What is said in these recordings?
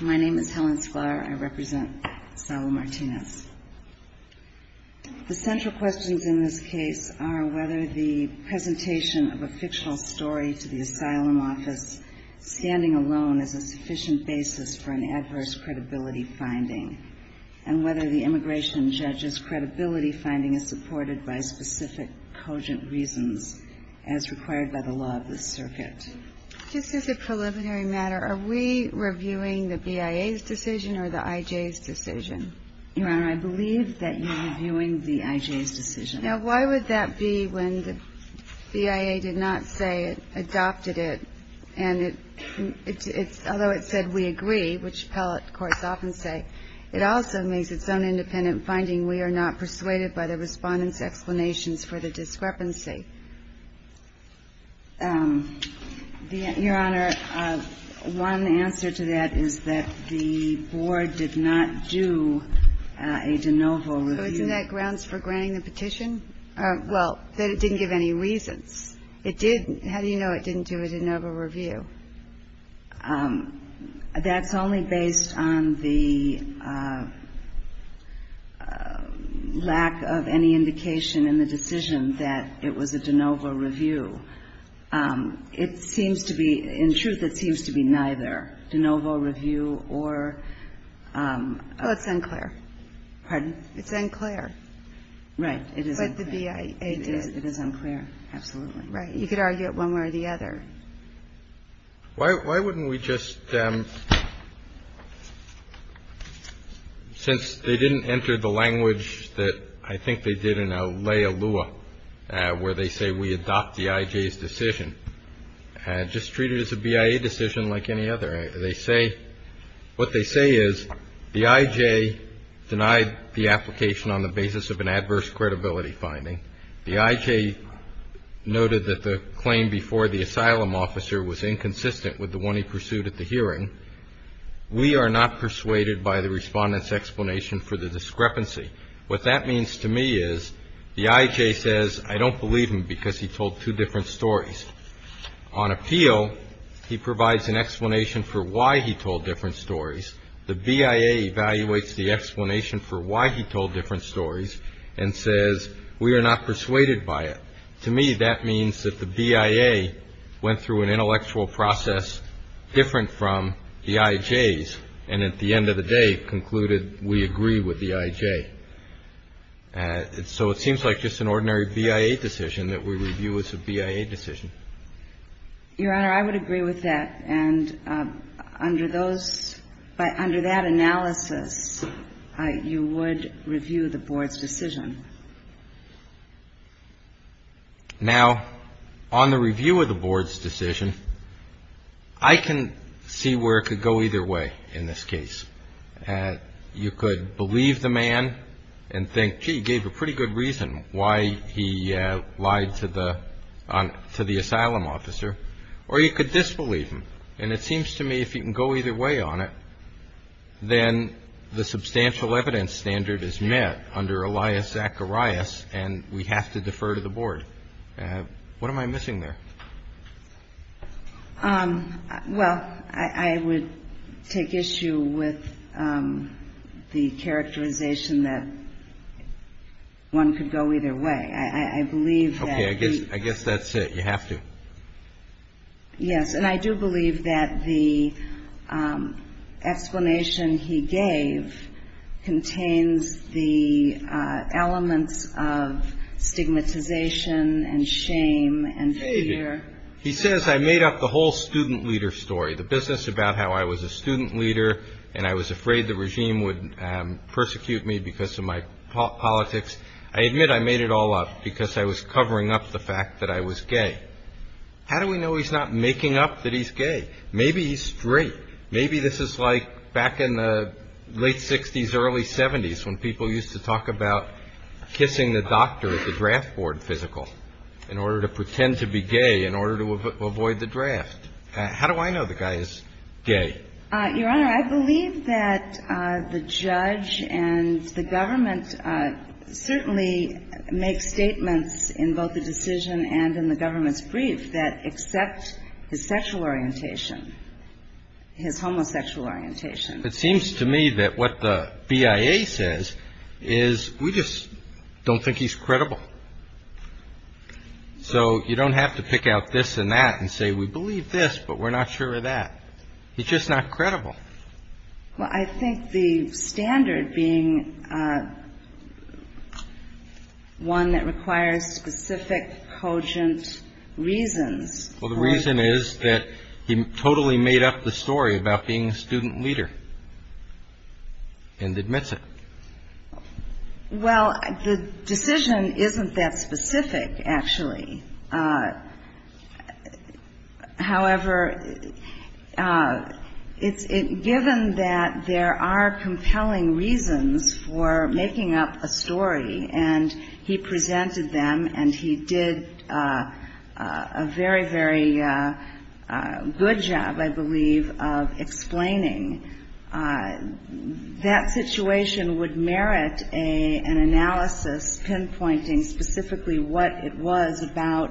My name is Helen Sklar. I represent Asylum Martinez. The central questions in this case are whether the presentation of a fictional story to the asylum office, standing alone, is a sufficient basis for an adverse credibility finding, and whether the immigration judge's credibility finding is supported by specific cogent reasons as required by the law of the circuit. This is a preliminary matter. Are we reviewing the BIA's decision or the IJ's decision? Your Honor, I believe that you're reviewing the IJ's decision. Now, why would that be when the BIA did not say it adopted it, and although it said we agree, which appellate courts often say, it also makes its own independent finding we are not persuaded by the Respondent's explanations for the discrepancy. Your Honor, one answer to that is that the Board did not do a de novo review. But isn't that grounds for granting the petition? Well, that it didn't give any reasons. It did. How do you know it didn't do a de novo review? That's only based on the lack of any indication in the decision that it was a de novo review. It seems to be – in truth, it seems to be neither, de novo review or – Well, it's unclear. Pardon? It's unclear. Right. But the BIA did. It is unclear, absolutely. Right. You could argue it one way or the other. Why wouldn't we just – since they didn't enter the language that I think they did in a leia lua, where they say we adopt the IJ's decision, just treat it as a BIA decision like any other. They say – what they say is the IJ denied the application on the basis of an adverse credibility finding. The IJ noted that the claim before the asylum officer was inconsistent with the one he pursued at the hearing. We are not persuaded by the Respondent's explanation for the discrepancy. What that means to me is the IJ says I don't believe him because he told two different stories. On appeal, he provides an explanation for why he told different stories. The BIA evaluates the explanation for why he told different stories and says we are not persuaded by it. To me, that means that the BIA went through an intellectual process different from the IJ's and at the end of the day concluded we agree with the IJ. So it seems like just an ordinary BIA decision that we review as a BIA decision. Your Honor, I would agree with that. And under those – under that analysis, you would review the Board's decision. Now, on the review of the Board's decision, I can see where it could go either way in this case. You could believe the man and think, gee, he gave a pretty good reason why he lied to the asylum officer. Or you could disbelieve him. And it seems to me if you can go either way on it, then the substantial evidence standard is met under Elias Zacharias and we have to defer to the Board. What am I missing there? Well, I would take issue with the characterization that one could go either way. Okay, I guess that's it. You have to. Yes, and I do believe that the explanation he gave contains the elements of stigmatization and shame and fear. He says I made up the whole student leader story, the business about how I was a student leader and I was afraid the regime would persecute me because of my politics. I admit I made it all up because I was covering up the fact that I was gay. How do we know he's not making up that he's gay? Maybe he's straight. Maybe this is like back in the late 60s, early 70s, when people used to talk about kissing the doctor at the draft board physical in order to pretend to be gay, in order to avoid the draft. How do I know the guy is gay? Your Honor, I believe that the judge and the government certainly make statements in both the decision and in the government's brief that accept his sexual orientation, his homosexual orientation. It seems to me that what the BIA says is we just don't think he's credible. So you don't have to pick out this and that and say we believe this, but we're not sure of that. He's just not credible. Well, I think the standard being one that requires specific, cogent reasons. Well, the reason is that he totally made up the story about being a student leader and admits it. Well, the decision isn't that specific, actually. However, given that there are compelling reasons for making up a story and he presented them and he did a very, very good job, I believe, of explaining, that situation would merit an analysis pinpointing specifically what it was about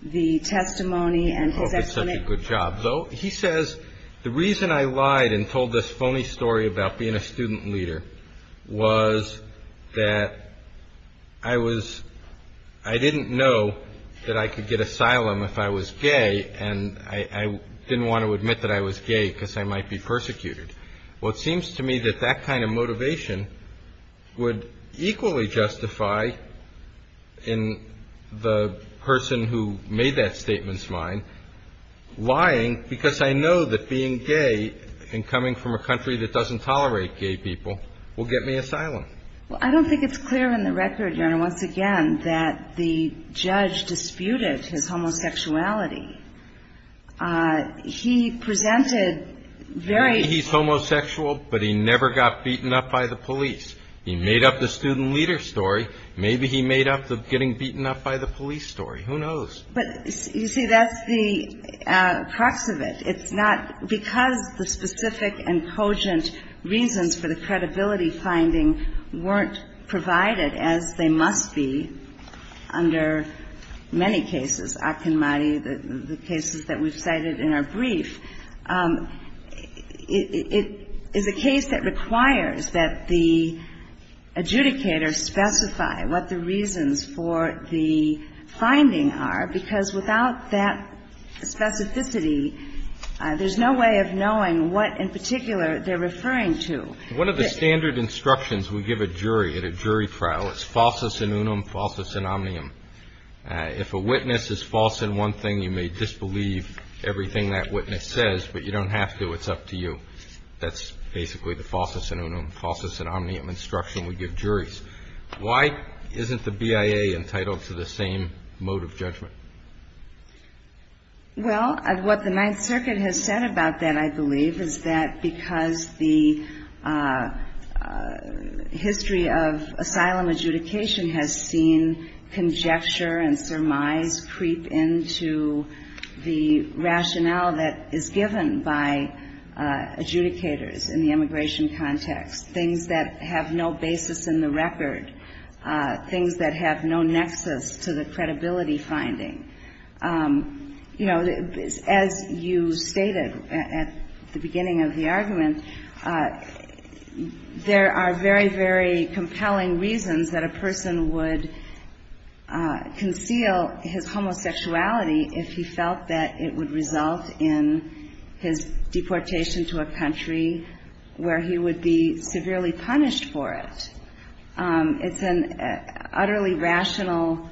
the testimony and his explanation. I hope it's such a good job. He says the reason I lied and told this phony story about being a student leader was that I was – I didn't know that I could get asylum if I was gay and I didn't want to admit that I was gay because I might be persecuted. Well, it seems to me that that kind of motivation would equally justify in the person who made that statement's mind lying because I know that being gay and coming from a country that doesn't tolerate gay people will get me asylum. Well, I don't think it's clear in the record, Your Honor, once again, that the judge disputed his homosexuality. He presented very – Maybe he's homosexual, but he never got beaten up by the police. He made up the student leader story. Maybe he made up the getting beaten up by the police story. Who knows? But, you see, that's the crux of it. It's not – because the specific and cogent reasons for the credibility finding weren't provided, as they must be under many cases, Akinmadi, the cases that we've cited in our brief. It is a case that requires that the adjudicator specify what the reasons for the finding are because without that specificity, there's no way of knowing what in particular they're referring to. One of the standard instructions we give a jury at a jury trial is falsus in unum, falsus in omnium. If a witness is false in one thing, you may disbelieve everything that witness says, but you don't have to. It's up to you. That's basically the falsus in unum, falsus in omnium instruction we give juries. Why isn't the BIA entitled to the same mode of judgment? Well, what the Ninth Circuit has said about that, I believe, is that because the history of asylum adjudication has seen conjecture and surmise creep into the rationale that is given by adjudicators in the immigration context, things that have no basis in the record, things that have no nexus to the credibility finding. You know, as you stated at the beginning of the argument, there are very, very compelling reasons that a person would conceal his homosexuality if he felt that it would result in his deportation to a country where he would be severely punished for it. It's an utterly rational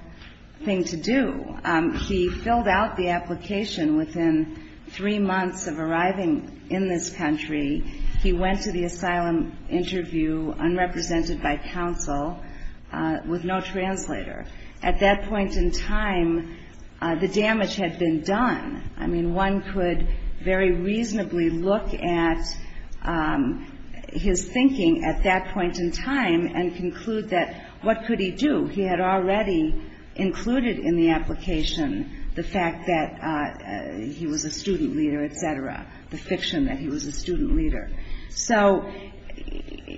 thing to do. He filled out the application within three months of arriving in this country. He went to the asylum interview, unrepresented by counsel, with no translator. At that point in time, the damage had been done. I mean, one could very reasonably look at his thinking at that point in time and conclude that what could he do? He had already included in the application the fact that he was a student leader, et cetera, the fiction that he was a student leader. So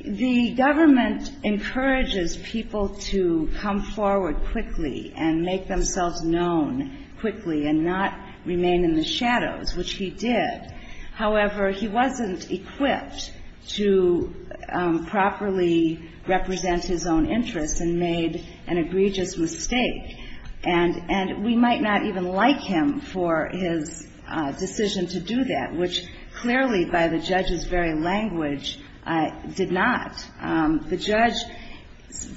the government encourages people to come forward quickly and make themselves known quickly and not remain in the shadows, which he did. However, he wasn't equipped to properly represent his own interests and made an egregious mistake. And we might not even like him for his decision to do that, which clearly by the judge's very language did not. The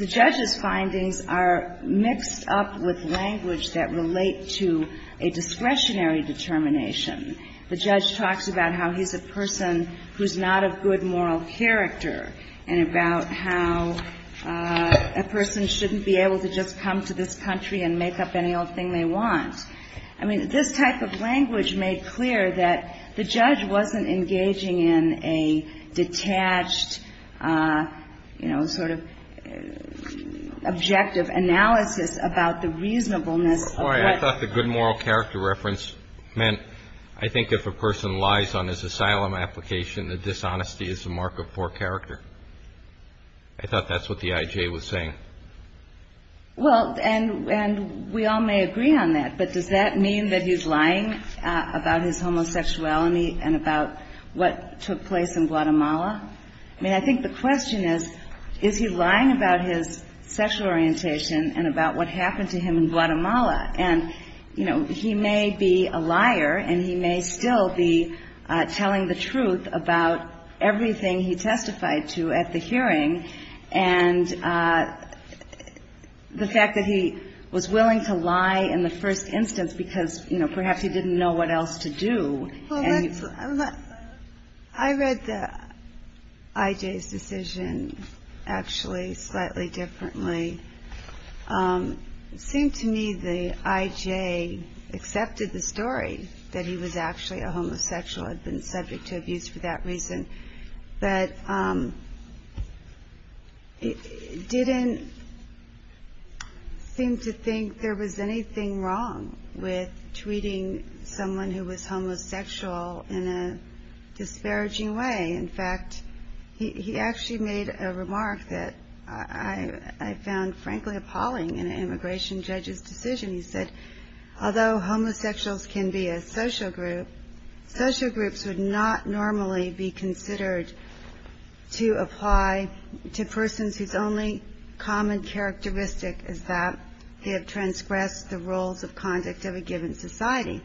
judge's findings are mixed up with language that relate to a discretionary determination. The judge talks about how he's a person who's not of good moral character and about how a person shouldn't be able to just come to this country and make up any old thing they want. I mean, this type of language made clear that the judge wasn't engaging in a detached, you know, sort of objective analysis about the reasonableness of what he was doing. I thought the good moral character reference meant I think if a person lies on his asylum application, the dishonesty is a mark of poor character. I thought that's what the I.J. was saying. Well, and we all may agree on that, but does that mean that he's lying about his homosexuality and about what took place in Guatemala? I mean, I think the question is, is he lying about his sexual orientation and about what happened to him in Guatemala? And, you know, he may be a liar and he may still be telling the truth about everything he testified to at the hearing, and the fact that he was willing to lie in the first instance because, you know, perhaps he didn't know what else to do. I read the I.J.'s decision actually slightly differently. It seemed to me the I.J. accepted the story that he was actually a homosexual and had been subject to abuse for that reason, but didn't seem to think there was anything wrong with tweeting someone who was homosexual in a disparaging way. In fact, he actually made a remark that I found, frankly, appalling in an immigration judge's decision. He said, although homosexuals can be a social group, social groups would not normally be considered to apply to persons whose only common characteristic is that they have transgressed the rules of conduct of a given society.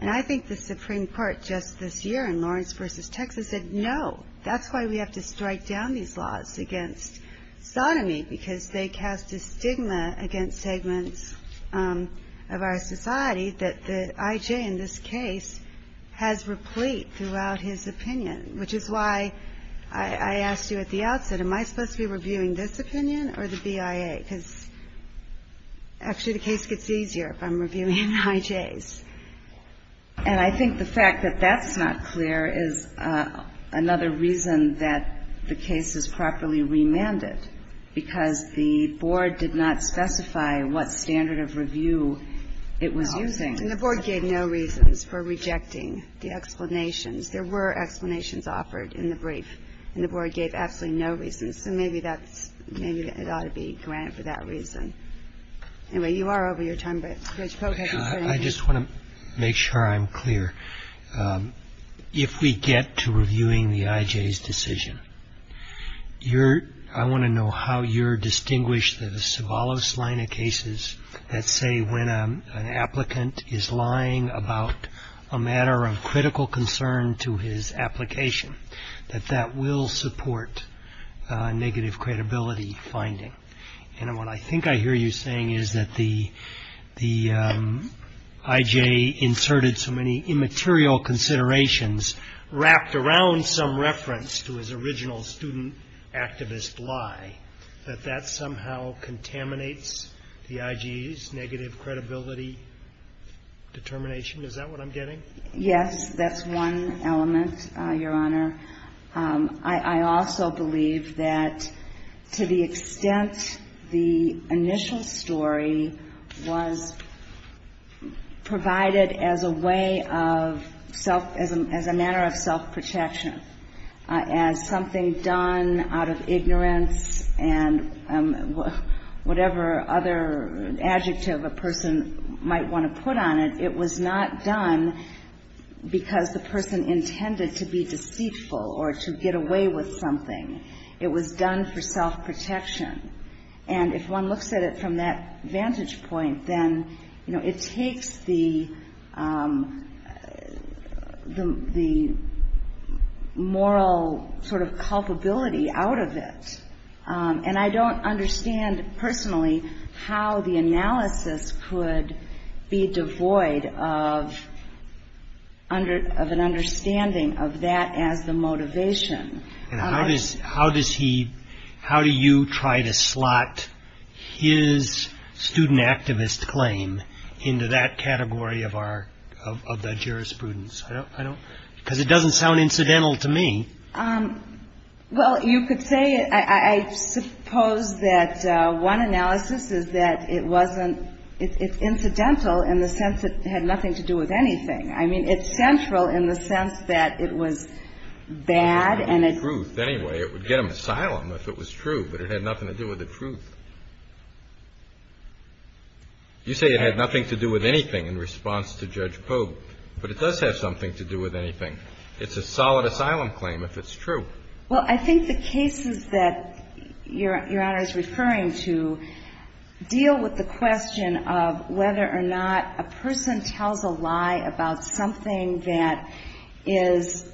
And I think the Supreme Court just this year in Lawrence v. Texas said, no, that's why we have to strike down these laws against sodomy, because they cast a stigma against segments of our society that the I.J. in this case has replete throughout his opinion, which is why I asked you at the outset, am I supposed to be reviewing this opinion or the BIA, because actually the case gets easier if I'm reviewing I.J.'s. And I think the fact that that's not clear is another reason that the case is properly remanded, because the board did not specify what standard of review it was using. And the board gave no reasons for rejecting the explanations. There were explanations offered in the brief, and the board gave absolutely no reasons, so maybe it ought to be granted for that reason. Anyway, you are over your time, but Judge Polk, have you said anything? I just want to make sure I'm clear. If we get to reviewing the I.J.'s decision, I want to know how you distinguish the Sobolos-Leina cases that say when an applicant is lying about a matter of critical concern to his application, that that will support negative credibility finding. And what I think I hear you saying is that the I.J. inserted so many immaterial considerations wrapped around some reference to his original student activist lie, that that somehow contaminates the I.J.'s negative credibility determination. Is that what I'm getting? Yes, that's one element, Your Honor. I also believe that to the extent the initial story was provided as a way of self as a manner of self-protection, as something done out of ignorance and whatever other adjective a person might want to put on it, it was not done because the person intended to be deceitful or to get away with something. It was done for self-protection. And if one looks at it from that vantage point, then, you know, it takes the moral sort of culpability out of it. And I don't understand personally how the analysis could be devoid of an understanding of that as the motivation. And how does he, how do you try to slot his student activist claim into that category of our, of the jurisprudence? I don't, because it doesn't sound incidental to me. Well, you could say, I suppose that one analysis is that it wasn't, it's incidental in the sense that it had nothing to do with anything. I mean, it's central in the sense that it was bad and it. It had nothing to do with the truth anyway. It would get him asylum if it was true, but it had nothing to do with the truth. You say it had nothing to do with anything in response to Judge Pope, but it does have something to do with anything. It's a solid asylum claim if it's true. Well, I think the cases that Your Honor is referring to deal with the question of whether or not a person tells a lie about something that is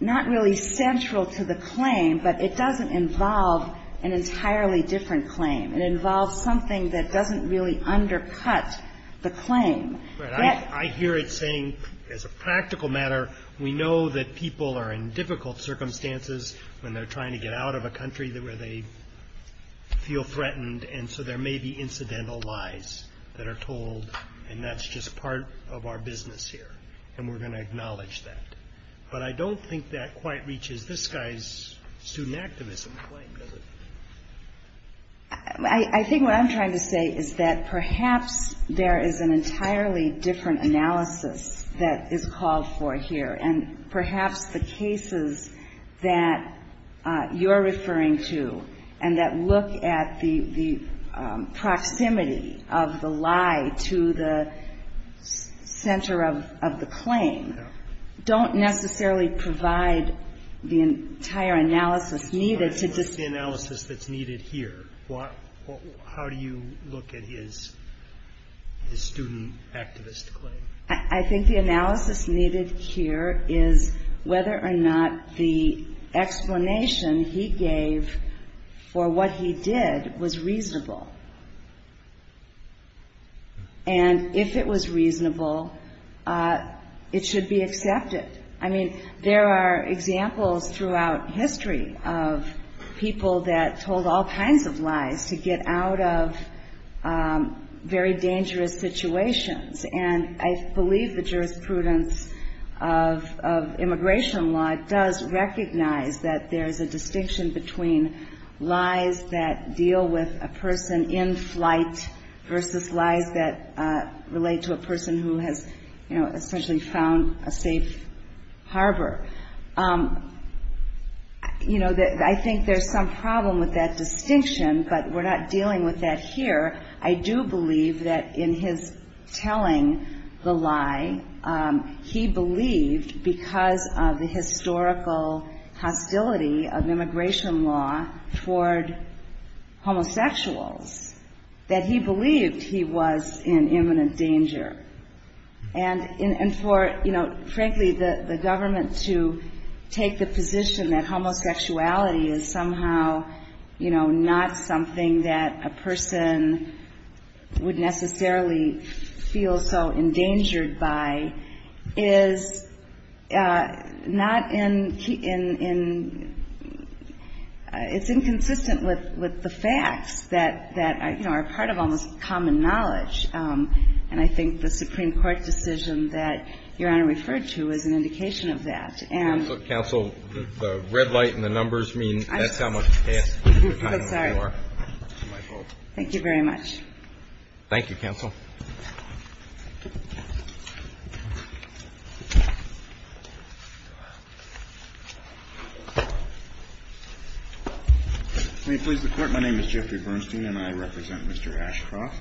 not really central to the claim, but it doesn't involve an entirely different claim. It involves something that doesn't really undercut the claim. Right. I hear it saying, as a practical matter, we know that people are in difficult circumstances when they're trying to get out of a country where they feel threatened, and so there may be incidental lies that are told, and that's just part of our business here, and we're going to acknowledge that. But I don't think that quite reaches this guy's student activism claim, does it? I think what I'm trying to say is that perhaps there is an entirely different analysis that is called for here, and perhaps the cases that you're referring to and that look at the proximity of the lie to the center of the claim don't necessarily provide the entire analysis needed to just What's the analysis that's needed here? How do you look at his student activist claim? I think the analysis needed here is whether or not the explanation he gave for what he did was reasonable. And if it was reasonable, it should be accepted. I mean, there are examples throughout history of people that told all kinds of lies to get out of very dangerous situations, and I believe the jurisprudence of immigration law does recognize that there's a distinction between lies that deal with a person in flight versus lies that relate to a person who has essentially found a safe harbor. I think there's some problem with that distinction, but we're not dealing with that here. I do believe that in his telling the lie, he believed, because of the historical hostility of immigration law toward homosexuals, that he believed he was in imminent danger. And for, frankly, the government to take the position that homosexuality is somehow, you know, not something that a person would necessarily feel so endangered by is not in, it's inconsistent with the facts that, you know, are part of almost common knowledge, and I think the Supreme Court decision that Your Honor referred to is an indication of that. Thank you very much. May it please the Court, my name is Jeffrey Bernstein and I represent Mr. Ashcroft.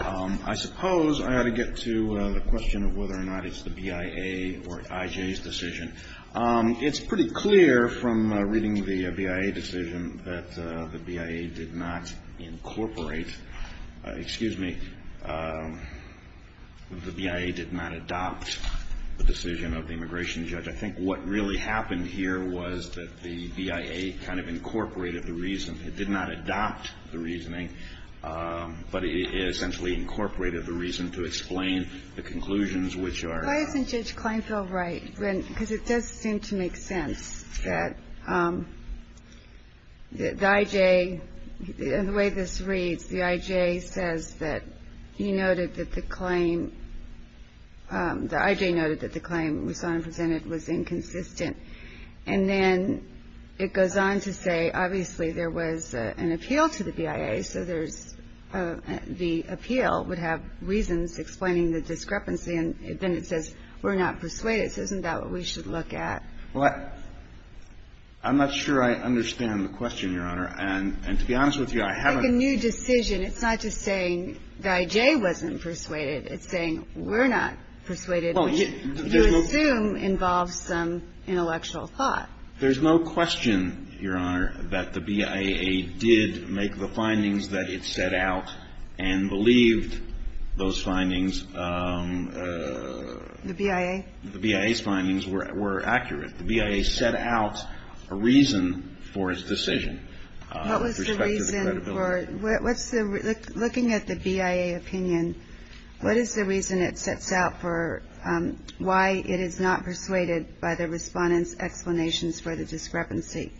I suppose I ought to get to the question of whether or not it's the BIA or IJ's decision. It's pretty clear from reading the BIA decision that the BIA did not incorporate, excuse me, the BIA did not adopt the decision of the immigration judge. I think what really happened here was that the BIA kind of incorporated the reason, it did not adopt the reasoning, but it essentially incorporated the reason to explain the conclusions which are. Why isn't Judge Kleinfeld right? Because it does seem to make sense that the IJ, and the way this reads, the IJ says that he noted that the claim, the IJ noted that the claim we saw and presented was inconsistent. And then it goes on to say obviously there was an appeal to the BIA, so there's, the appeal would have reasons explaining the discrepancy, and then it says we're not persuaded, so isn't that what we should look at? Well, I'm not sure I understand the question, Your Honor, and to be honest with you, I haven't. It's like a new decision, it's not just saying the IJ wasn't persuaded, it's saying we're not persuaded. You assume involves some intellectual thought. There's no question, Your Honor, that the BIA did make the findings that it set out and believed those findings. The BIA? The BIA's findings were accurate. The BIA set out a reason for its decision. What was the reason for, what's the, looking at the BIA opinion, what is the reason it sets out for why it is not persuaded by the Respondent's explanations for the discrepancy?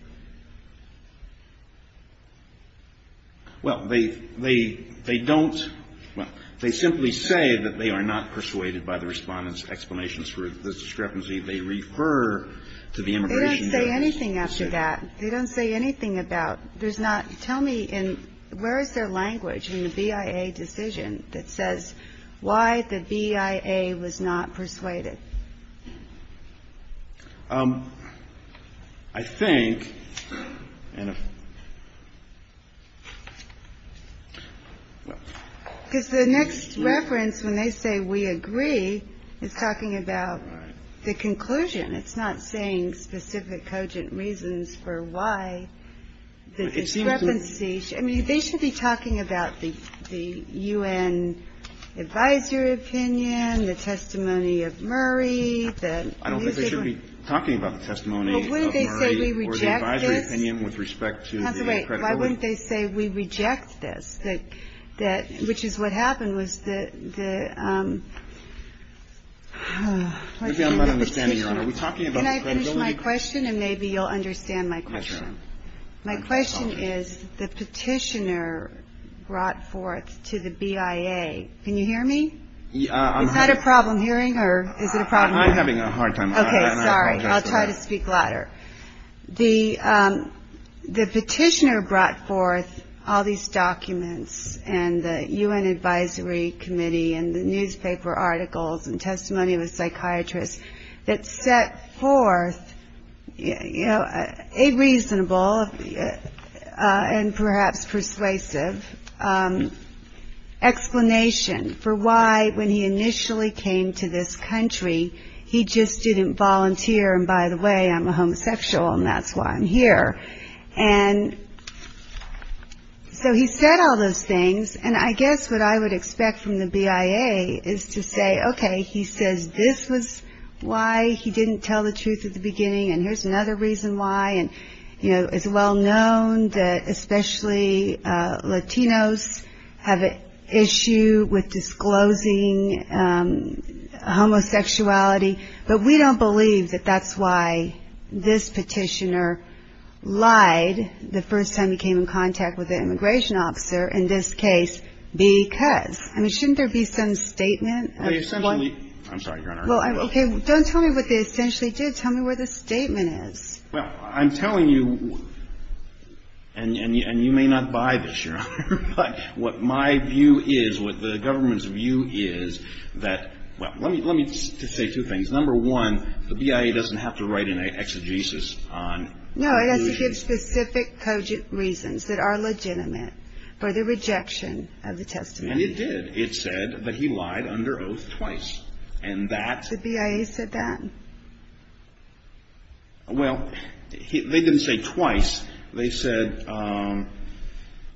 Well, they don't, well, they simply say that they are not persuaded by the Respondent's explanations for the discrepancy. They refer to the immigration judge. They don't say anything after that. They don't say anything about, there's not, tell me in, where is their language in the BIA decision that says why the BIA was not persuaded? I think, and if, well. Because the next reference when they say we agree is talking about the conclusion. It's not saying specific cogent reasons for why the discrepancy, I mean, they should be talking about the U.N. advisory opinion, the testimony of Murray. I don't think they should be talking about the testimony of Murray. Well, wouldn't they say we reject this? Or the advisory opinion with respect to the credibility. Wait, why wouldn't they say we reject this? That, which is what happened, was the, the. Maybe I'm not understanding, Your Honor. Are we talking about the credibility? Can I finish my question and maybe you'll understand my question? My question is, the petitioner brought forth to the BIA, can you hear me? Is that a problem hearing or is it a problem? I'm having a hard time. Okay, sorry. I'll try to speak louder. The, the petitioner brought forth all these documents and the U.N. advisory committee and the newspaper articles and testimony of a psychiatrist that set forth, you know, a reasonable and perhaps persuasive explanation for why, when he initially came to this country, he just didn't volunteer, and by the way, I'm a homosexual and that's why I'm here. And so he said all those things and I guess what I would expect from the BIA is to say, okay, he says this was why he didn't tell the truth at the beginning and here's another reason why. And, you know, it's well known that especially Latinos have an issue with disclosing homosexuality, but we don't believe that that's why this petitioner lied the first time he came in contact with the immigration officer in this case because, I mean, shouldn't there be some statement? I'm sorry, Your Honor. Okay, don't tell me what they essentially did. Tell me where the statement is. Well, I'm telling you, and you may not buy this, Your Honor, but what my view is, what the government's view is that, well, let me just say two things. Number one, the BIA doesn't have to write an exegesis on. No, it has to give specific cogent reasons that are legitimate for the rejection of the testimony. And it did. It said that he lied under oath twice and that. The BIA said that? Well, they didn't say twice. They said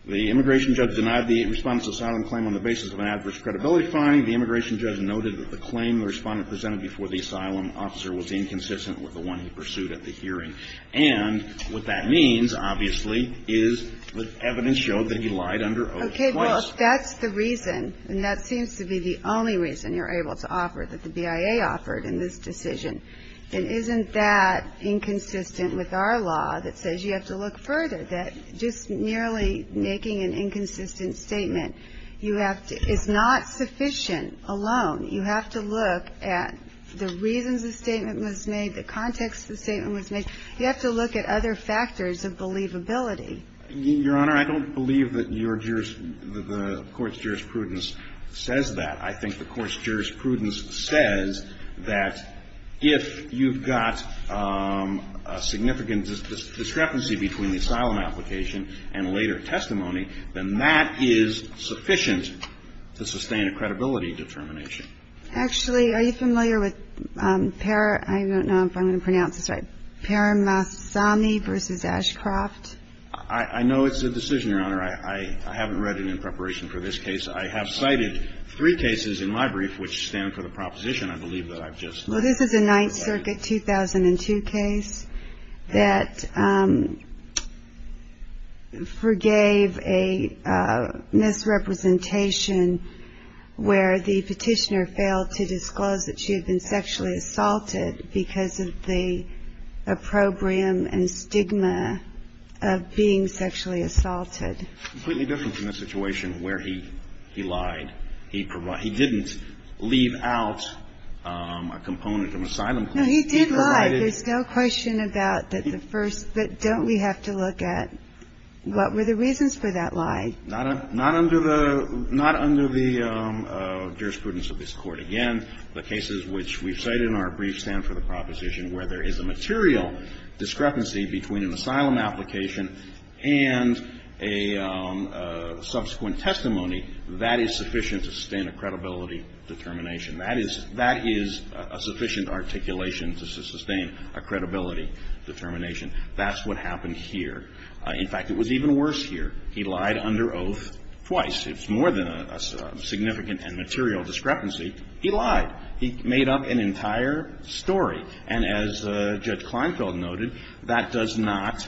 the immigration judge denied the respondent's asylum claim on the basis of an adverse credibility finding. The immigration judge noted that the claim the respondent presented before the asylum officer was inconsistent with the one he pursued at the hearing, and what that means, obviously, is that evidence showed that he lied under oath twice. Okay, well, if that's the reason, and that seems to be the only reason you're able to offer, that the BIA offered in this decision, then isn't that inconsistent with our law that says you have to look further, that just nearly making an inconsistent statement, you have to – it's not sufficient alone. You have to look at the reasons the statement was made, the context the statement was made. You have to look at other factors of believability. Your Honor, I don't believe that your – the Court's jurisprudence says that. I think the Court's jurisprudence says that if you've got a significant discrepancy between the asylum application and a later testimony, then that is sufficient to sustain a credibility determination. Actually, are you familiar with – I don't know if I'm going to pronounce this right – Paramasamy v. Ashcroft? I know it's a decision, Your Honor. I haven't read it in preparation for this case. I have cited three cases in my brief which stand for the proposition, I believe, that I've just read. Well, this is a Ninth Circuit 2002 case that forgave a misrepresentation where the petitioner failed to disclose that she had been sexually assaulted because of the opprobrium and stigma of being sexually assaulted. Completely different from the situation where he lied. He didn't leave out a component of asylum claim. No, he did lie. There's no question about that the first – but don't we have to look at what were the reasons for that lie? Not under the – not under the jurisprudence of this Court. Again, the cases which we've cited in our brief stand for the proposition where there is a material discrepancy between an asylum application and a subsequent testimony, that is sufficient to sustain a credibility determination. That is – that is a sufficient articulation to sustain a credibility determination. That's what happened here. In fact, it was even worse here. He lied under oath twice. It's more than a significant and material discrepancy. He lied. He made up an entire story. And as Judge Kleinfeld noted, that does not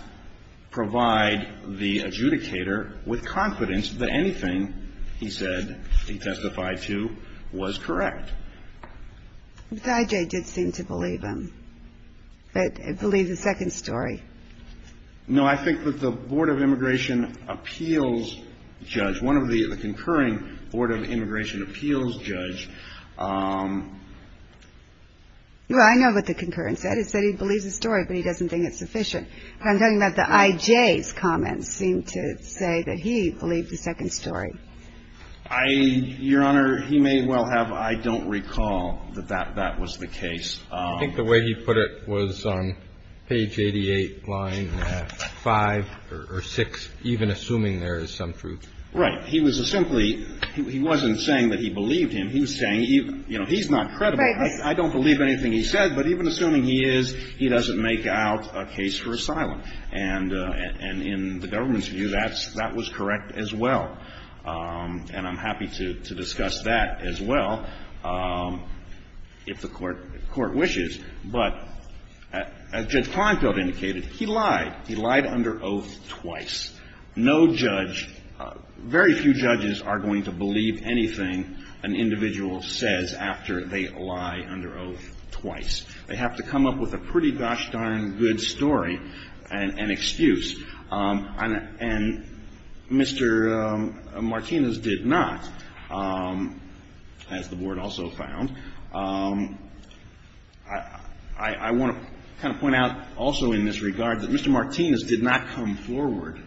provide the adjudicator with confidence that anything he said he testified to was correct. But I.J. did seem to believe him. But believe the second story. No, I think that the Board of Immigration Appeals judge, one of the concurring Board of Immigration Appeals judge – Well, I know what the concurrence said. It said he believes the story, but he doesn't think it's sufficient. But I'm telling you that the I.J.'s comments seem to say that he believed the second story. I – Your Honor, he may well have. I don't recall that that was the case. I think the way he put it was on page 88, line 5 or 6, even assuming there is some truth. Right. He was simply – he wasn't saying that he believed him. He was saying, you know, he's not credible. I don't believe anything he said. But even assuming he is, he doesn't make out a case for asylum. And in the government's view, that's – that was correct as well. And I'm happy to discuss that as well, if the Court wishes. But as Judge Kleinfeld indicated, he lied. He lied under oath twice. No judge – very few judges are going to believe anything an individual says after they lie under oath twice. They have to come up with a pretty gosh-darn good story and excuse. And Mr. Martinez did not, as the Board also found. I want to kind of point out also in this regard that Mr. Martinez did not come forward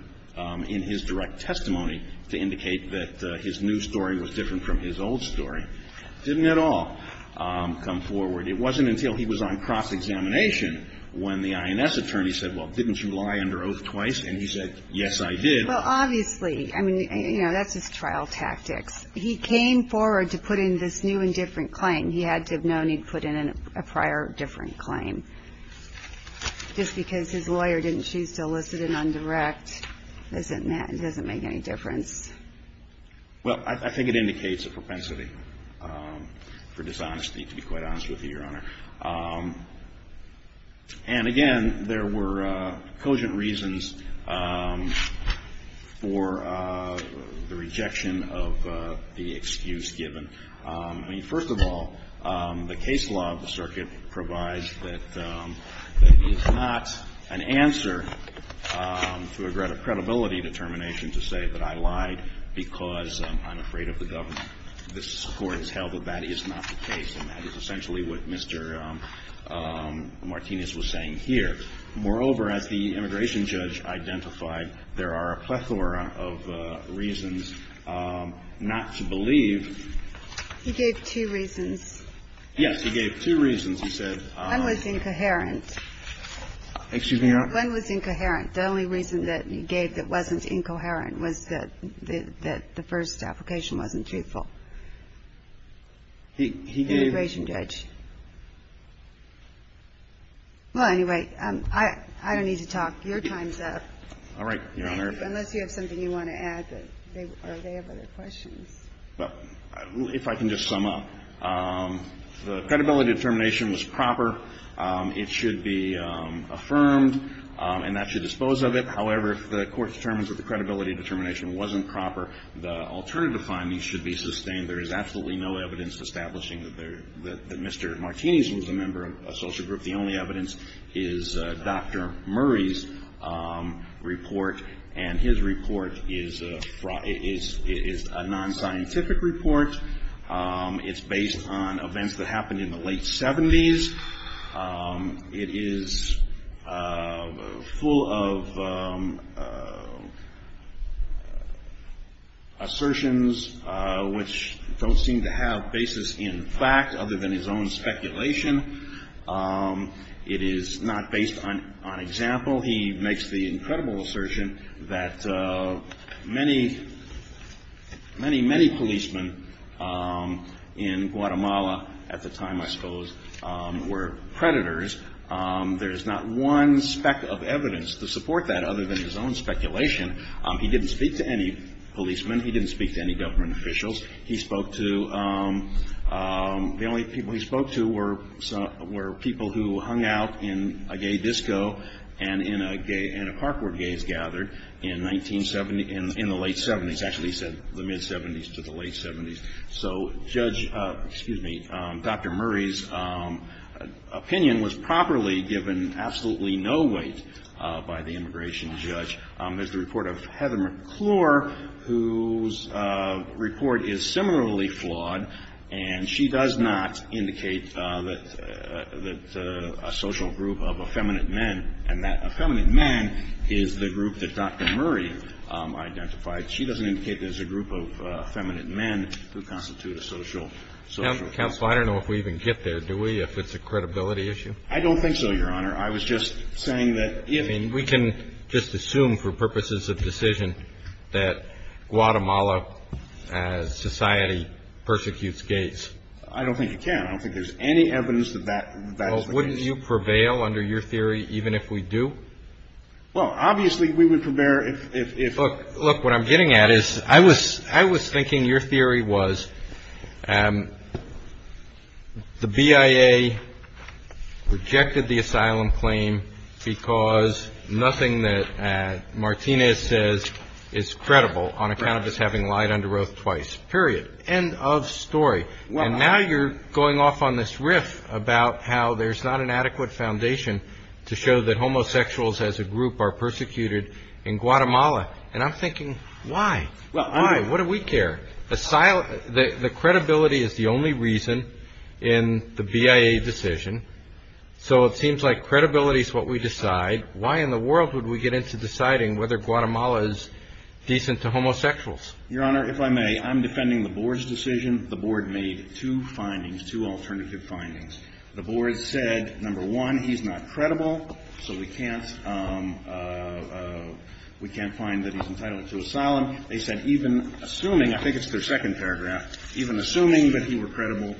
in his direct testimony to indicate that his new story was different from his old story. Didn't at all come forward. It wasn't until he was on cross-examination when the INS attorney said, well, didn't you lie under oath twice? And he said, yes, I did. Well, obviously. I mean, you know, that's his trial tactics. He came forward to put in this new and different claim. He had to have known he'd put in a prior different claim. Just because his lawyer didn't choose to elicit an undirect doesn't make any difference. Well, I think it indicates a propensity for dishonesty, to be quite honest with you, Your Honor. And, again, there were cogent reasons for the rejection of the excuse given. I mean, first of all, the case law of the circuit provides that it's not an answer to a greater credibility determination to say that I lied because I'm afraid of the government. This Court has held that that is not the case, and that is essentially what Mr. Martinez was saying here. Moreover, as the immigration judge identified, there are a plethora of reasons not to believe. He gave two reasons. Yes. He gave two reasons. He said one was incoherent. Excuse me, Your Honor. One was incoherent. The only reason that he gave that wasn't incoherent was that the first application wasn't truthful. The immigration judge. Well, anyway, I don't need to talk. Your time's up. All right, Your Honor. Unless you have something you want to add, or they have other questions. Well, if I can just sum up. The credibility determination was proper. It should be affirmed, and that should dispose of it. However, if the Court determines that the credibility determination wasn't proper, the alternative findings should be sustained. There is absolutely no evidence establishing that Mr. Martinez was a member of a social group. The only evidence is Dr. Murray's report, and his report is a non-scientific report. It's based on events that happened in the late 70s. It is full of assertions which don't seem to have basis in fact, other than his own speculation. It is not based on example. He makes the incredible assertion that many, many policemen in Guatemala at the time, I suppose, were predators. There is not one speck of evidence to support that other than his own speculation. He didn't speak to any policemen. He didn't speak to any government officials. The only people he spoke to were people who hung out in a gay disco and in a park where gays gathered in the late 70s. Actually, he said the mid-70s to the late 70s. So Judge, excuse me, Dr. Murray's opinion was properly given absolutely no weight by the immigration judge. There's the report of Heather McClure, whose report is similarly flawed, and she does not indicate that a social group of effeminate men and that effeminate men is the group that Dr. Murray identified. She doesn't indicate there's a group of effeminate men who constitute a social group. Counsel, I don't know if we even get there, do we, if it's a credibility issue? I don't think so, Your Honor. I was just saying that if. I mean, we can just assume for purposes of decision that Guatemala society persecutes gays. I don't think you can. I don't think there's any evidence that that is the case. Well, wouldn't you prevail under your theory even if we do? Well, obviously, we would prevail if. Look, what I'm getting at is I was I was thinking your theory was the BIA rejected the asylum claim because nothing that Martinez says is credible on account of us having lied under oath twice. Period. End of story. And now you're going off on this riff about how there's not an adequate foundation to show that homosexuals as a group are persecuted in Guatemala. And I'm thinking, why? Why? What do we care? The credibility is the only reason in the BIA decision. So it seems like credibility is what we decide. Why in the world would we get into deciding whether Guatemala is decent to homosexuals? Your Honor, if I may, I'm defending the board's decision. The board made two findings, two alternative findings. The board said, number one, he's not credible, so we can't we can't find that he's entitled to asylum. They said even assuming, I think it's their second paragraph, even assuming that he were credible,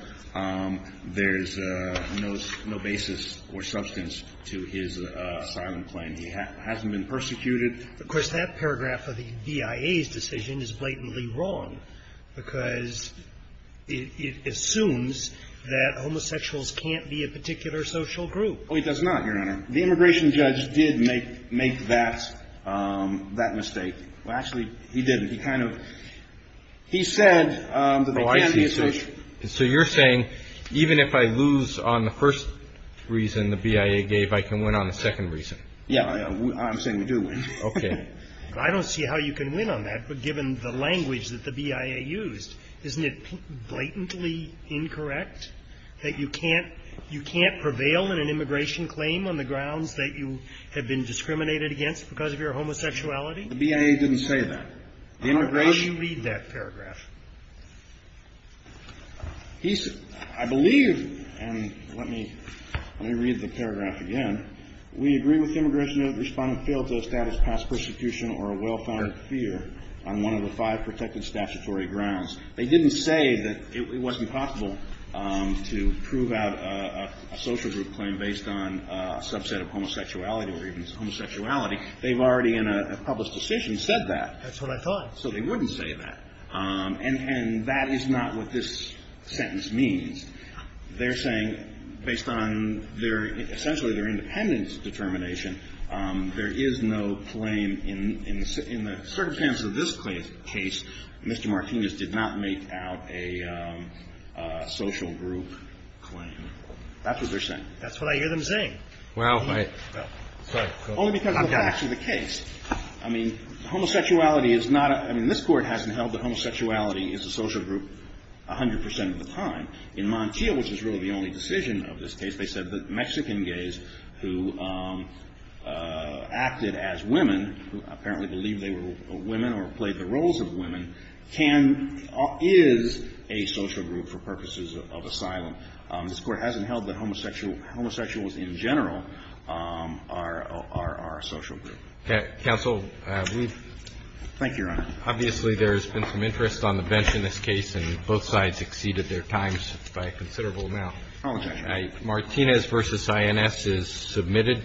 there's no basis or substance to his asylum claim. He hasn't been persecuted. Of course, that paragraph of the BIA's decision is blatantly wrong because it assumes that homosexuals can't be a particular social group. Oh, he does not, Your Honor. The immigration judge did make that mistake. Well, actually, he didn't. He kind of he said that they can't be a social group. Oh, I see. So you're saying even if I lose on the first reason the BIA gave, I can win on the second reason. Yeah. I'm saying we do win. Okay. I don't see how you can win on that. But given the language that the BIA used, isn't it blatantly incorrect that you can't you can't prevail in an immigration claim on the grounds that you have been discriminated against because of your homosexuality? The BIA didn't say that. How do you read that paragraph? He said I believe and let me let me read the paragraph again. We agree with immigration that the respondent failed to establish past persecution or a well-founded fear on one of the five protected statutory grounds. They didn't say that it wasn't possible to prove out a social group claim based on a subset of homosexuality or even homosexuality. They've already in a published decision said that. That's what I thought. So they wouldn't say that. And that is not what this sentence means. They're saying based on their essentially their independence determination, there is no claim in the circumstance of this case. Mr. Martinez did not make out a social group claim. That's what they're saying. That's what I hear them saying. Wow. Sorry. Only because that's actually the case. I mean, homosexuality is not a I mean, this Court hasn't held that homosexuality is a social group 100 percent of the time. In Montiel, which is really the only decision of this case, they said that Mexican gays who acted as women, who apparently believed they were women or played the roles of women, can is a social group for purposes of asylum. This Court hasn't held that homosexual homosexuals in general are a social group. Counsel, we've Thank you, Your Honor. Obviously, there's been some interest on the bench in this case, and both sides exceeded their times by a considerable amount. I apologize. Martinez v. INS is submitted.